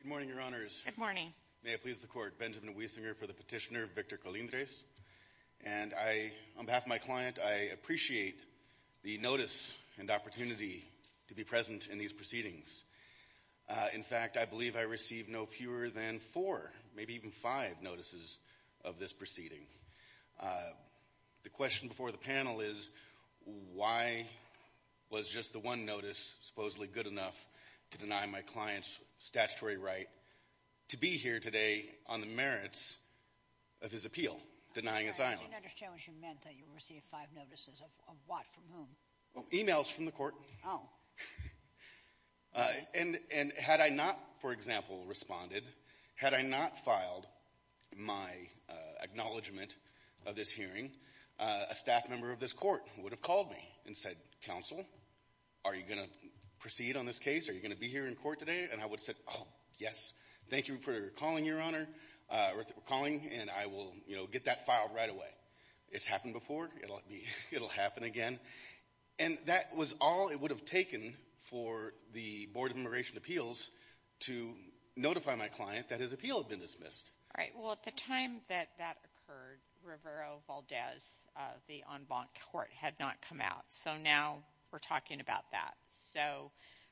Good morning, your honors. Good morning. May it please the court, Benjamin Wiesinger for the petitioner, Victor Colindrez. And I, on behalf of my client, I appreciate the notice and opportunity to be present in these proceedings. In fact, I believe I received no fewer than four, maybe even five, notices of this proceeding. The question before the panel is why was just the one notice supposedly good enough to deny my client's statutory right to be here today on the merits of his appeal, denying asylum? I didn't understand what you meant. You received five notices of what? From whom? Emails from the court. And had I not, for example, responded, had I not filed my acknowledgment of this hearing, a staff member of this court would have called me and said, counsel, are you going to proceed on this case? Are you going to be here in court today? And I would have said, oh, yes. Thank you for calling, your honor, and I will get that filed right away. But it's happened before. It'll happen again. And that was all it would have taken for the Board of Immigration Appeals to notify my client that his appeal had been dismissed. All right. Well, at the time that that occurred, Rivero-Valdez, the en banc court, had not come out. So now we're talking about that. So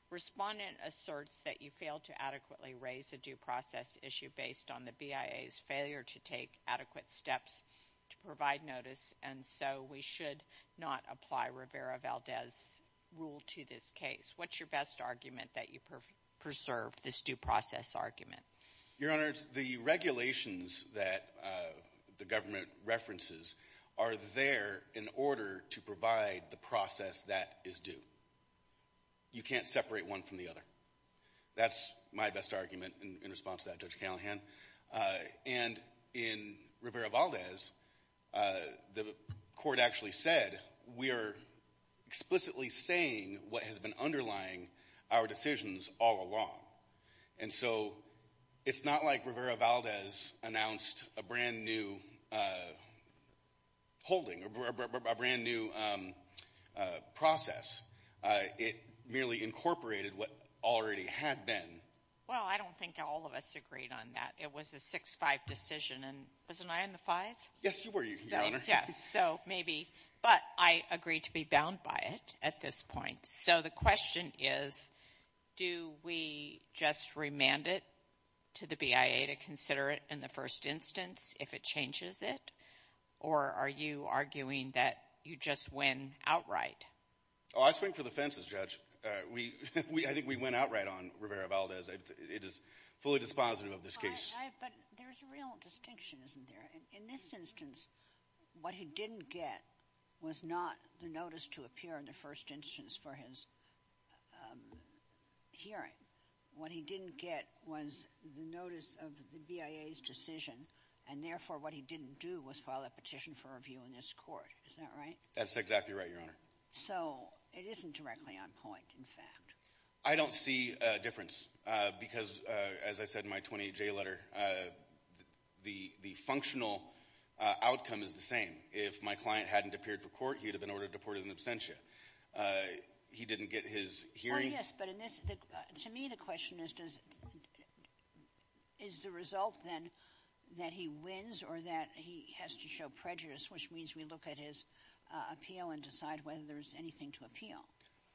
respondent asserts that you failed to adequately raise a due process issue based on the BIA's failure to take adequate steps to provide notice, and so we should not apply Rivero-Valdez's rule to this case. What's your best argument that you preserve this due process argument? Your honors, the regulations that the government references are there in order to provide the process that is due. You can't separate one from the other. That's my best argument in response to that, Judge Callahan. And in Rivero-Valdez, the court actually said we are explicitly saying what has been underlying our decisions all along. And so it's not like Rivero-Valdez announced a brand-new holding or a brand-new process. It merely incorporated what already had been. Well, I don't think all of us agreed on that. It was a 6-5 decision. And wasn't I in the five? Yes, you were, Your Honor. Yes, so maybe. But I agree to be bound by it at this point. So the question is, do we just remand it to the BIA to consider it in the first instance if it changes it? Or are you arguing that you just win outright? Oh, I swing for the fences, Judge. I think we win outright on Rivero-Valdez. It is fully dispositive of this case. But there's a real distinction, isn't there? In this instance, what he didn't get was not the notice to appear in the first instance for his hearing. What he didn't get was the notice of the BIA's decision, and therefore what he didn't do was file a petition for review in this court. Is that right? That's exactly right, Your Honor. So it isn't directly on point, in fact. I don't see a difference because, as I said in my 28-J letter, the functional outcome is the same. If my client hadn't appeared for court, he would have been ordered deported in absentia. He didn't get his hearing. Oh, yes, but in this — to me, the question is, does — is the result, then, that he wins or that he has to show prejudice, which means we look at his appeal and decide whether there's anything to appeal?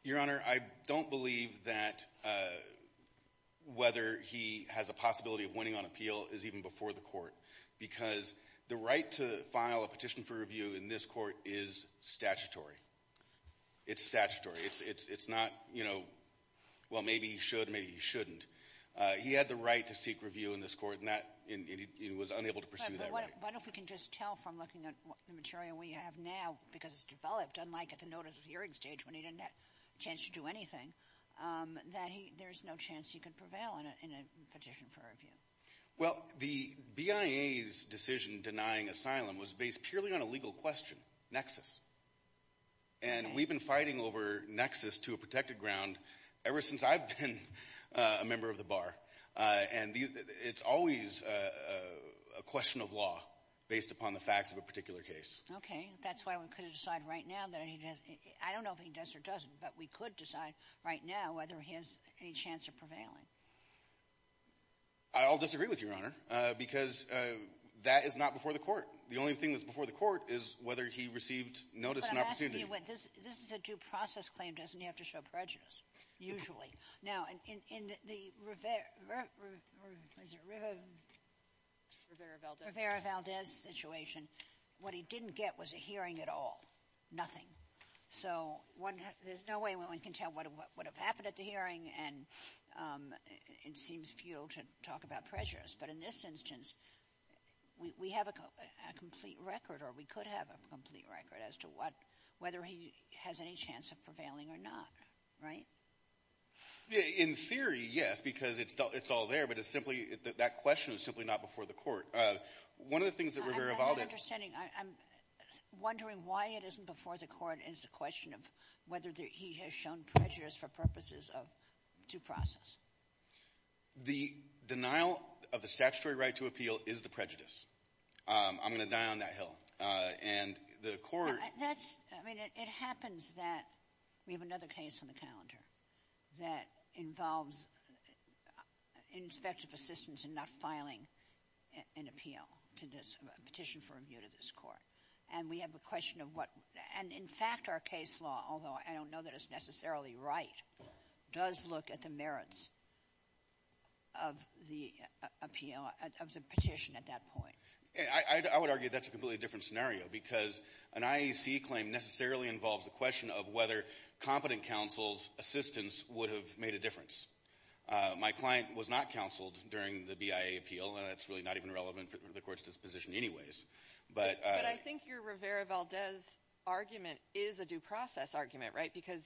Your Honor, I don't believe that whether he has a possibility of winning on appeal is even before the court because the right to file a petition for review in this court is statutory. It's statutory. It's not, you know, well, maybe he should, maybe he shouldn't. He had the right to seek review in this court, and that — and he was unable to pursue that right. But what if we can just tell from looking at the material we have now, because it's developed, unlike at the notice of hearing stage when he didn't have a chance to do anything, that there's no chance he could prevail in a petition for review? Well, the BIA's decision denying asylum was based purely on a legal question, nexus. And we've been fighting over nexus to a protected ground ever since I've been a member of the bar. And it's always a question of law based upon the facts of a particular case. Okay. That's why we could decide right now that he — I don't know if he does or doesn't, but we could decide right now whether he has any chance of prevailing. I'll disagree with you, Your Honor, because that is not before the court. The only thing that's before the court is whether he received notice and opportunity. But I'm asking you, this is a due process claim. Doesn't he have to show prejudice, usually? Now, in the Rivera-Valdez situation, what he didn't get was a hearing at all, nothing. So there's no way one can tell what would have happened at the hearing, and it seems futile to talk about prejudice. But in this instance, we have a complete record or we could have a complete record as to what — whether he has any chance of prevailing or not. Right? In theory, yes, because it's all there, but it's simply — that question is simply not before the court. One of the things that Rivera-Valdez — I'm not understanding. I'm wondering why it isn't before the court. It's a question of whether he has shown prejudice for purposes of due process. The denial of the statutory right to appeal is the prejudice. I'm going to die on that hill. And the court — That's — I mean, it happens that we have another case on the calendar that involves inspective assistance in not filing an appeal to this — a petition for review to this court. And we have a question of what — and, in fact, our case law, although I don't know that it's necessarily right, does look at the merits of the appeal — of the petition at that point. I would argue that's a completely different scenario because an IAC claim necessarily involves a question of whether competent counsel's assistance would have made a difference. My client was not counseled during the BIA appeal, and that's really not even relevant for the court's disposition anyways. But I — But I think your Rivera-Valdez argument is a due process argument, right? Because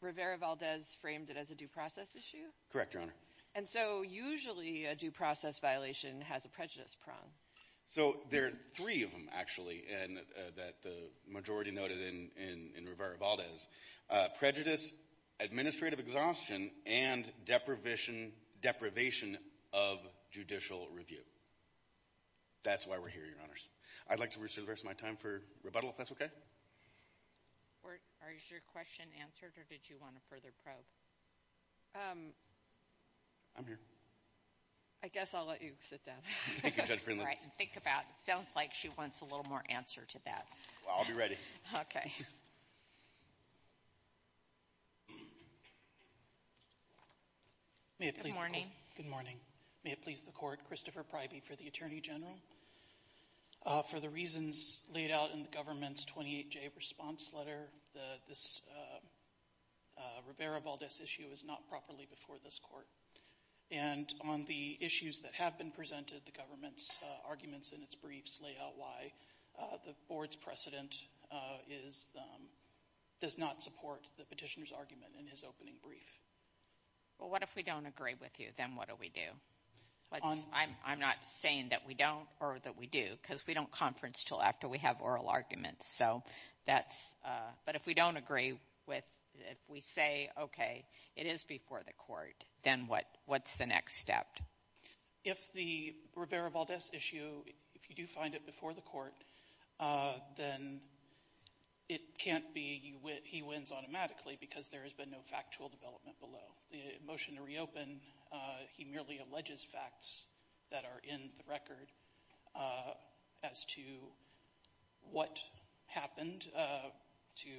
Rivera-Valdez framed it as a due process issue? Correct, Your Honor. And so usually a due process violation has a prejudice prong. So there are three of them, actually, that the majority noted in Rivera-Valdez — prejudice, administrative exhaustion, and deprivation of judicial review. That's why we're here, Your Honors. I'd like to reserve the rest of my time for rebuttal, if that's okay. Or is your question answered, or did you want to further probe? I'm here. I guess I'll let you sit down. Thank you, Judge Friendly. All right, and think about — sounds like she wants a little more answer to that. Well, I'll be ready. Okay. Good morning. Good morning. May it please the Court, Christopher Priby for the Attorney General. For the reasons laid out in the government's 28-J response letter, this Rivera-Valdez issue is not properly before this court. And on the issues that have been presented, the government's arguments in its briefs lay out why the board's precedent is — does not support the petitioner's argument in his opening brief. Well, what if we don't agree with you? Then what do we do? I'm not saying that we don't or that we do, because we don't conference until after we have oral arguments. So that's — but if we don't agree with — if we say, okay, it is before the court, then what's the next step? If the Rivera-Valdez issue — if you do find it before the court, then it can't be he wins automatically because there has been no factual development below. The motion to reopen, he merely alleges facts that are in the record as to what happened to —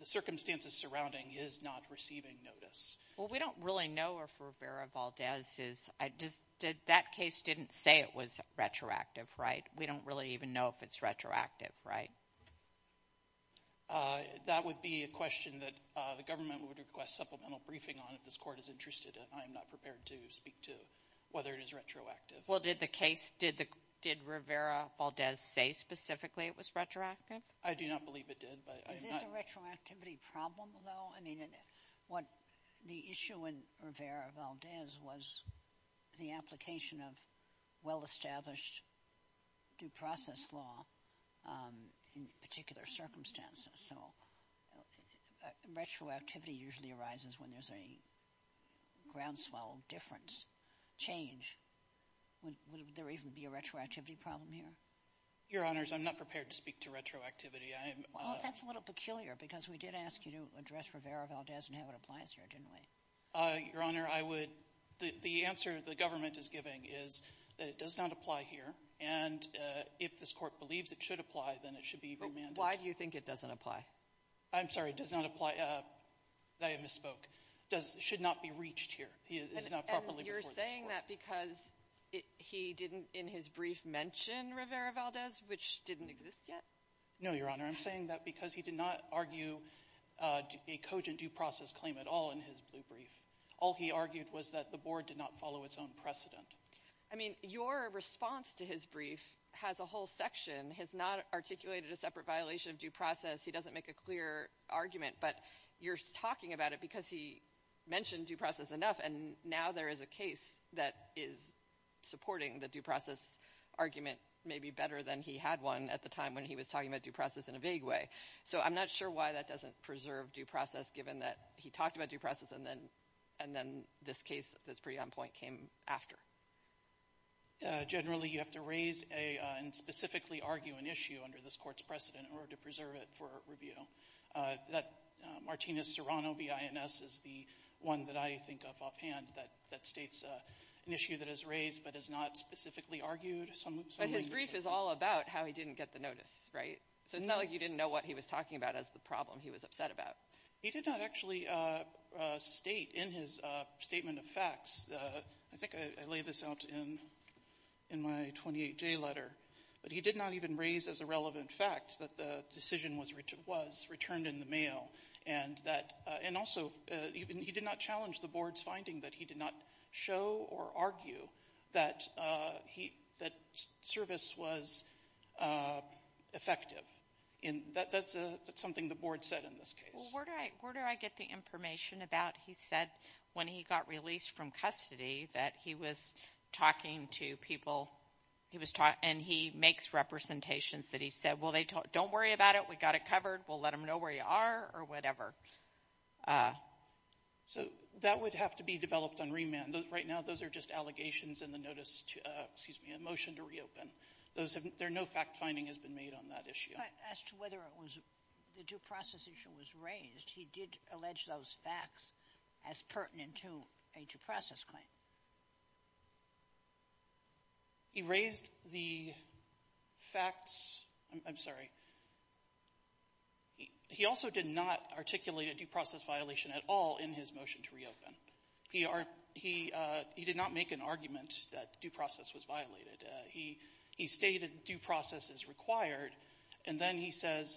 the circumstances surrounding his not receiving notice. Well, we don't really know if Rivera-Valdez is — that case didn't say it was retroactive, right? We don't really even know if it's retroactive, right? That would be a question that the government would request supplemental briefing on if this court is interested. I am not prepared to speak to whether it is retroactive. Well, did the case — did Rivera-Valdez say specifically it was retroactive? I do not believe it did, but I am not — That's a retroactivity problem, though. I mean, what — the issue in Rivera-Valdez was the application of well-established due process law in particular circumstances. So retroactivity usually arises when there's a groundswell difference, change. Would there even be a retroactivity problem here? Your Honors, I'm not prepared to speak to retroactivity. Well, that's a little peculiar because we did ask you to address Rivera-Valdez and how it applies here, didn't we? Your Honor, I would — the answer the government is giving is that it does not apply here, and if this court believes it should apply, then it should be remanded. Why do you think it doesn't apply? I'm sorry, it does not apply. I misspoke. It should not be reached here. It is not properly before this court. And you're saying that because he didn't in his brief mention Rivera-Valdez, which didn't exist yet? No, Your Honor. I'm saying that because he did not argue a cogent due process claim at all in his brief. All he argued was that the board did not follow its own precedent. I mean, your response to his brief has a whole section. It has not articulated a separate violation of due process. He doesn't make a clear argument, but you're talking about it because he mentioned due process enough, and now there is a case that is supporting the due process argument maybe better than he had one at the time when he was talking about due process in a vague way. So I'm not sure why that doesn't preserve due process given that he talked about due process and then this case that's pretty on point came after. Generally, you have to raise and specifically argue an issue under this court's precedent in order to preserve it for review. That Martinez-Serrano B.I.N.S. is the one that I think of offhand that states an issue that is raised but is not specifically argued. But his brief is all about how he didn't get the notice, right? So it's not like you didn't know what he was talking about as the problem he was upset about. He did not actually state in his statement of facts. I think I laid this out in my 28-J letter. But he did not even raise as a relevant fact that the decision was returned in the mail. And also he did not challenge the board's finding that he did not show or argue that service was effective. That's something the board said in this case. Where do I get the information about he said when he got released from custody that he was talking to people and he makes representations that he said, well, don't worry about it. We got it covered. We'll let them know where you are or whatever. So that would have to be developed on remand. Right now those are just allegations in the motion to reopen. No fact-finding has been made on that issue. As to whether the due process issue was raised, he did allege those facts as pertinent to a due process claim. He raised the facts. I'm sorry. He also did not articulate a due process violation at all in his motion to reopen. He did not make an argument that due process was violated. He stated due process is required. And then he says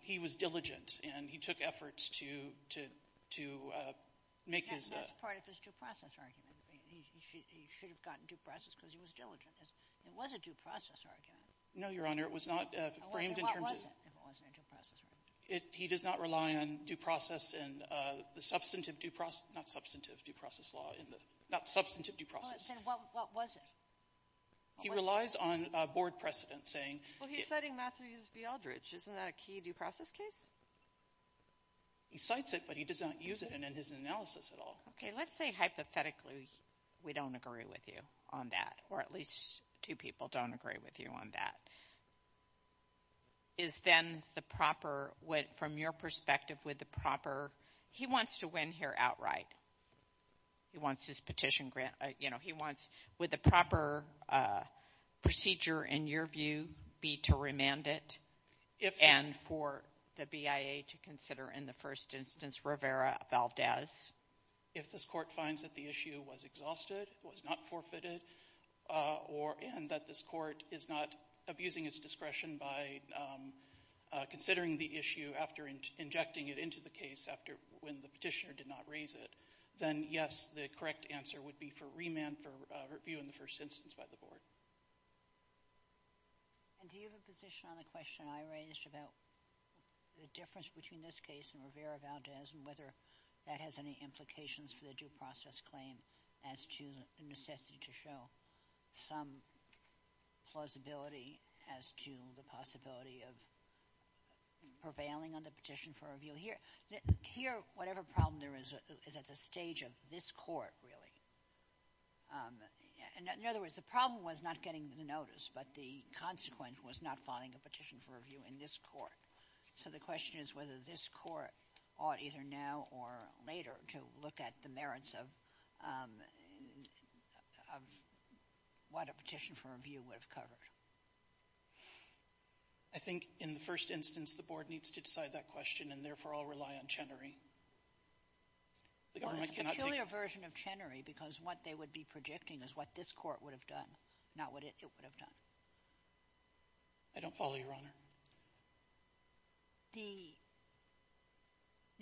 he was diligent and he took efforts to make his ---- That's part of his due process argument. He should have gotten due process because he was diligent. It was a due process argument. No, Your Honor. It was not framed in terms of ---- What was it if it wasn't a due process argument? He does not rely on due process in the substantive due process ---- not substantive due process law in the ---- not substantive due process. What was it? He relies on board precedent saying ---- Well, he's citing Matthews v. Aldridge. Isn't that a key due process case? He cites it, but he does not use it in his analysis at all. Okay. Let's say hypothetically we don't agree with you on that or at least two people don't agree with you on that. Is then the proper ---- from your perspective with the proper ---- he wants to win here outright. He wants his petition grant. He wants ---- would the proper procedure in your view be to remand it and for the BIA to consider in the first instance Rivera-Valdez? If this court finds that the issue was exhausted, was not forfeited, and that this court is not abusing its discretion by considering the issue after injecting it into the case when the petitioner did not raise it, then, yes, the correct answer would be for remand for review in the first instance by the board. And do you have a position on the question I raised about the difference between this case and Rivera-Valdez and whether that has any implications for the due process claim as to the necessity to show some plausibility as to the possibility of prevailing on the petition for review? Here, whatever problem there is is at the stage of this court, really. In other words, the problem was not getting the notice, but the consequence was not filing a petition for review in this court. So the question is whether this court ought either now or later to look at the merits of what a petition for review would have covered. I think in the first instance the board needs to decide that question and therefore all rely on Chenery. Well, it's a peculiar version of Chenery because what they would be projecting is what this court would have done, not what it would have done. I don't follow, Your Honor.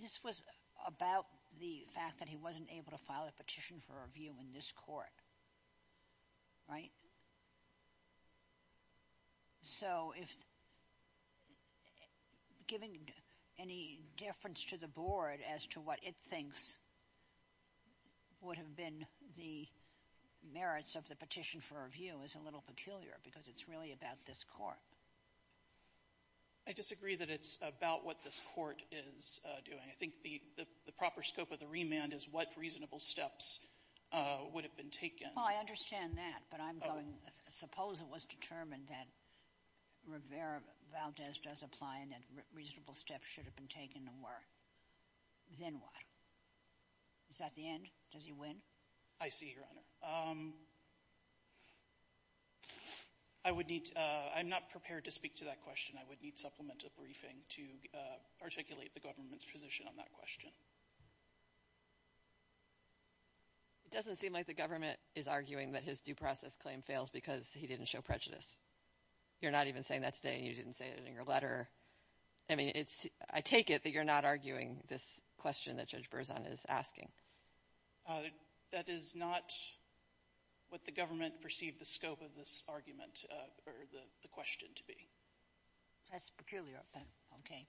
This was about the fact that he wasn't able to file a petition for review in this court, right? So if giving any difference to the board as to what it thinks would have been the merits of the petition for review is a little peculiar because it's really about this court. I disagree that it's about what this court is doing. I think the proper scope of the remand is what reasonable steps would have been taken. Well, I understand that, but I'm going to suppose it was determined that Rivera Valdez does apply and that reasonable steps should have been taken and were. Then what? Is that the end? Does he win? I see, Your Honor. I would need to — I'm not prepared to speak to that question. I would need supplemental briefing to articulate the government's position on that question. It doesn't seem like the government is arguing that his due process claim fails because he didn't show prejudice. You're not even saying that today and you didn't say it in your letter. I mean, I take it that you're not arguing this question that Judge Berzon is asking. That is not what the government perceived the scope of this argument or the question to be. That's peculiar. Okay.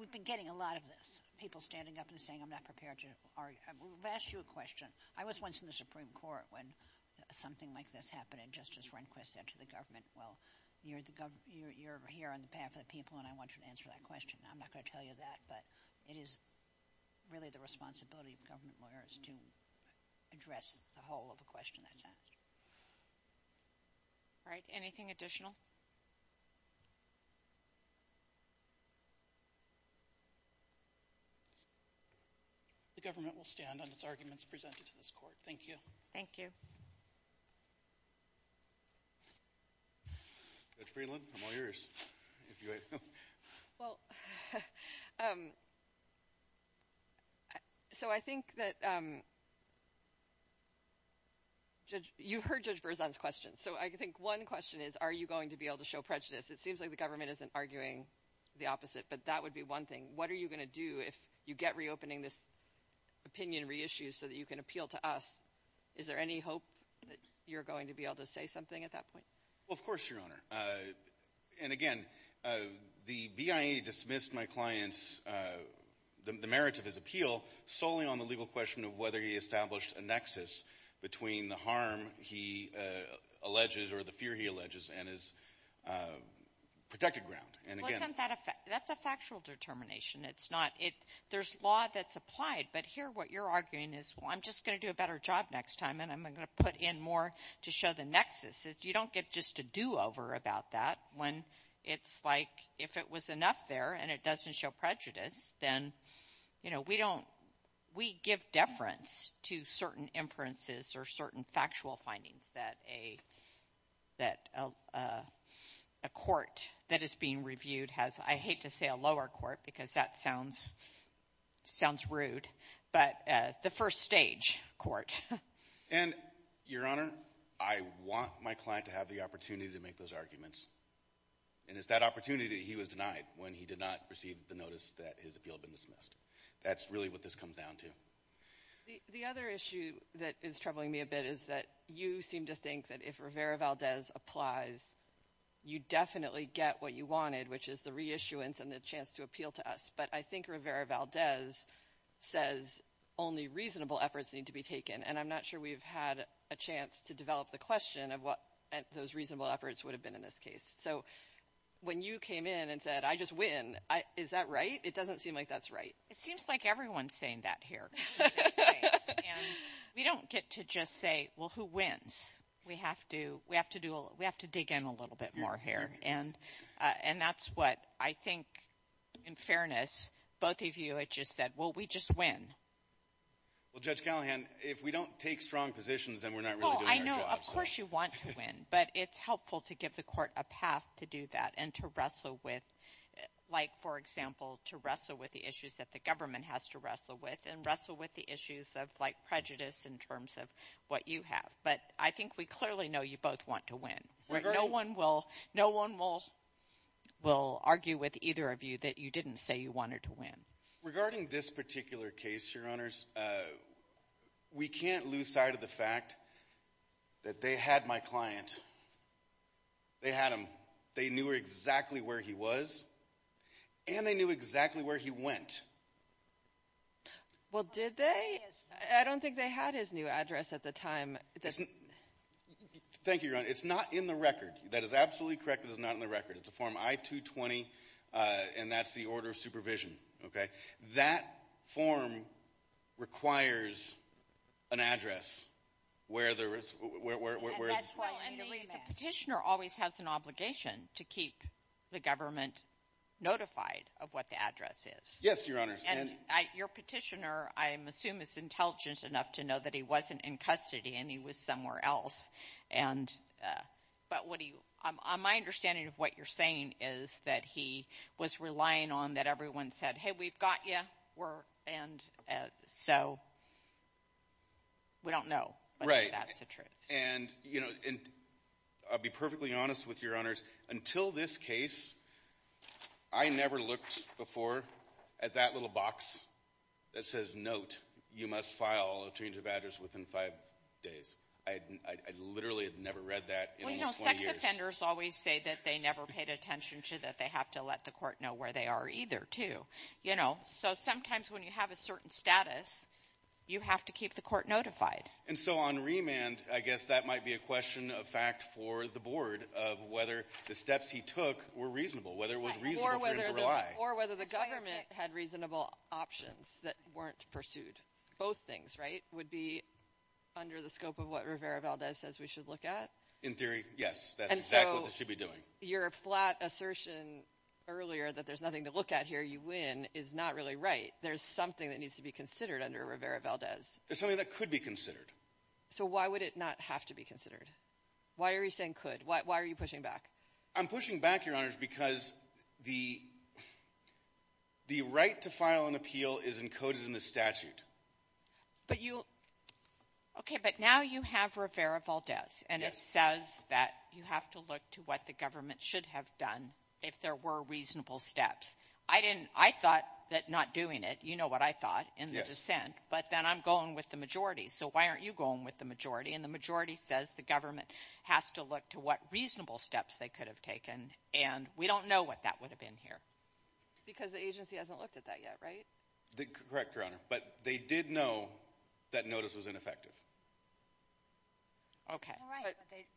We've been getting a lot of this, people standing up and saying I'm not prepared to argue. I've asked you a question. I was once in the Supreme Court when something like this happened and Justice Rehnquist said to the government, well, you're here on behalf of the people and I want you to answer that question. I'm not going to tell you that, but it is really the responsibility of government lawyers to address the whole of the question that's asked. All right. Anything additional? The government will stand on its arguments presented to this court. Thank you. Thank you. Judge Friedland, I'm all yours. Well, so I think that you heard Judge Berzon's question. So I think one question is are you going to be able to show prejudice? It seems like the government isn't arguing the opposite, but that would be one thing. What are you going to do if you get reopening this opinion reissue so that you can appeal to us? Is there any hope that you're going to be able to say something at that point? Well, of course, Your Honor. And, again, the BIA dismissed my client's, the merits of his appeal solely on the legal question of whether he established a nexus between the harm he alleges or the fear he alleges and his protected ground. Well, isn't that a fact? That's a factual determination. It's not – there's law that's applied. But here what you're arguing is, well, I'm just going to do a better job next time and I'm going to put in more to show the nexus. You don't get just a do-over about that when it's like if it was enough there and it doesn't show prejudice, then, you know, we don't – we give deference to certain inferences or certain factual findings that a court that is being reviewed has. I hate to say a lower court because that sounds rude, but the first stage court. And, Your Honor, I want my client to have the opportunity to make those arguments. And it's that opportunity that he was denied when he did not receive the notice that his appeal had been dismissed. That's really what this comes down to. The other issue that is troubling me a bit is that you seem to think that if Rivera-Valdez applies, you definitely get what you wanted, which is the reissuance and the chance to appeal to us. But I think Rivera-Valdez says only reasonable efforts need to be taken, and I'm not sure we've had a chance to develop the question of what those reasonable efforts would have been in this case. So when you came in and said, I just win, is that right? It doesn't seem like that's right. It seems like everyone's saying that here. We don't get to just say, well, who wins? We have to dig in a little bit more here, and that's what I think, in fairness, both of you had just said, well, we just win. Well, Judge Callahan, if we don't take strong positions, then we're not really doing our job. Well, of course you want to win, but it's helpful to give the court a path to do that and to wrestle with, like, for example, to wrestle with the issues that the government has to wrestle with and wrestle with the issues of, like, prejudice in terms of what you have. But I think we clearly know you both want to win. No one will argue with either of you that you didn't say you wanted to win. Regarding this particular case, Your Honors, we can't lose sight of the fact that they had my client. They had him. They knew exactly where he was, and they knew exactly where he went. Well, did they? I don't think they had his new address at the time. Thank you, Your Honor. It's not in the record. That is absolutely correct. It is not in the record. It's a form I-220, and that's the order of supervision. That form requires an address where there is... The petitioner always has an obligation to keep the government notified of what the address is. Yes, Your Honors. And your petitioner, I assume, is intelligent enough to know that he wasn't in custody and he was somewhere else. But my understanding of what you're saying is that he was relying on that everyone said, hey, we've got you, and so we don't know whether that's the truth. And I'll be perfectly honest with you, Your Honors. Until this case, I never looked before at that little box that says, note, you must file a change of address within five days. I literally had never read that in almost 20 years. Well, you know, sex offenders always say that they never paid attention to that. They have to let the court know where they are either, too. So sometimes when you have a certain status, you have to keep the court notified. And so on remand, I guess that might be a question of fact for the board, of whether the steps he took were reasonable, whether it was reasonable for him to rely. Or whether the government had reasonable options that weren't pursued. Both things, right, would be under the scope of what Rivera-Valdez says we should look at? In theory, yes. That's exactly what they should be doing. And so your flat assertion earlier that there's nothing to look at here you win is not really right. There's something that needs to be considered under Rivera-Valdez. There's something that could be considered. So why would it not have to be considered? Why are you saying could? Why are you pushing back? I'm pushing back, Your Honors, because the right to file an appeal is encoded in the statute. But you – okay, but now you have Rivera-Valdez. And it says that you have to look to what the government should have done if there were reasonable steps. I didn't – I thought that not doing it – you know what I thought in the dissent. But then I'm going with the majority. So why aren't you going with the majority? And the majority says the government has to look to what reasonable steps they could have taken. And we don't know what that would have been here. Because the agency hasn't looked at that yet, right? Correct, Your Honor. But they did know that notice was ineffective. Okay.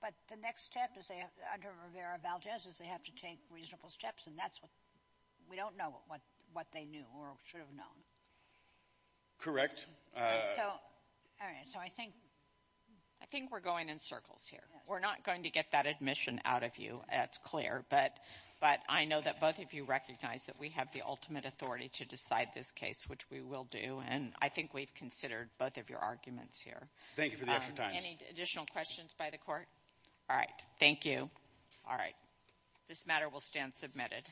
But the next step under Rivera-Valdez is they have to take reasonable steps, and that's what – we don't know what they knew or should have known. Correct. So I think we're going in circles here. We're not going to get that admission out of you. That's clear. But I know that both of you recognize that we have the ultimate authority to decide this case, which we will do. And I think we've considered both of your arguments here. Thank you for the extra time. Any additional questions by the Court? All right. Thank you. All right. This matter will stand submitted.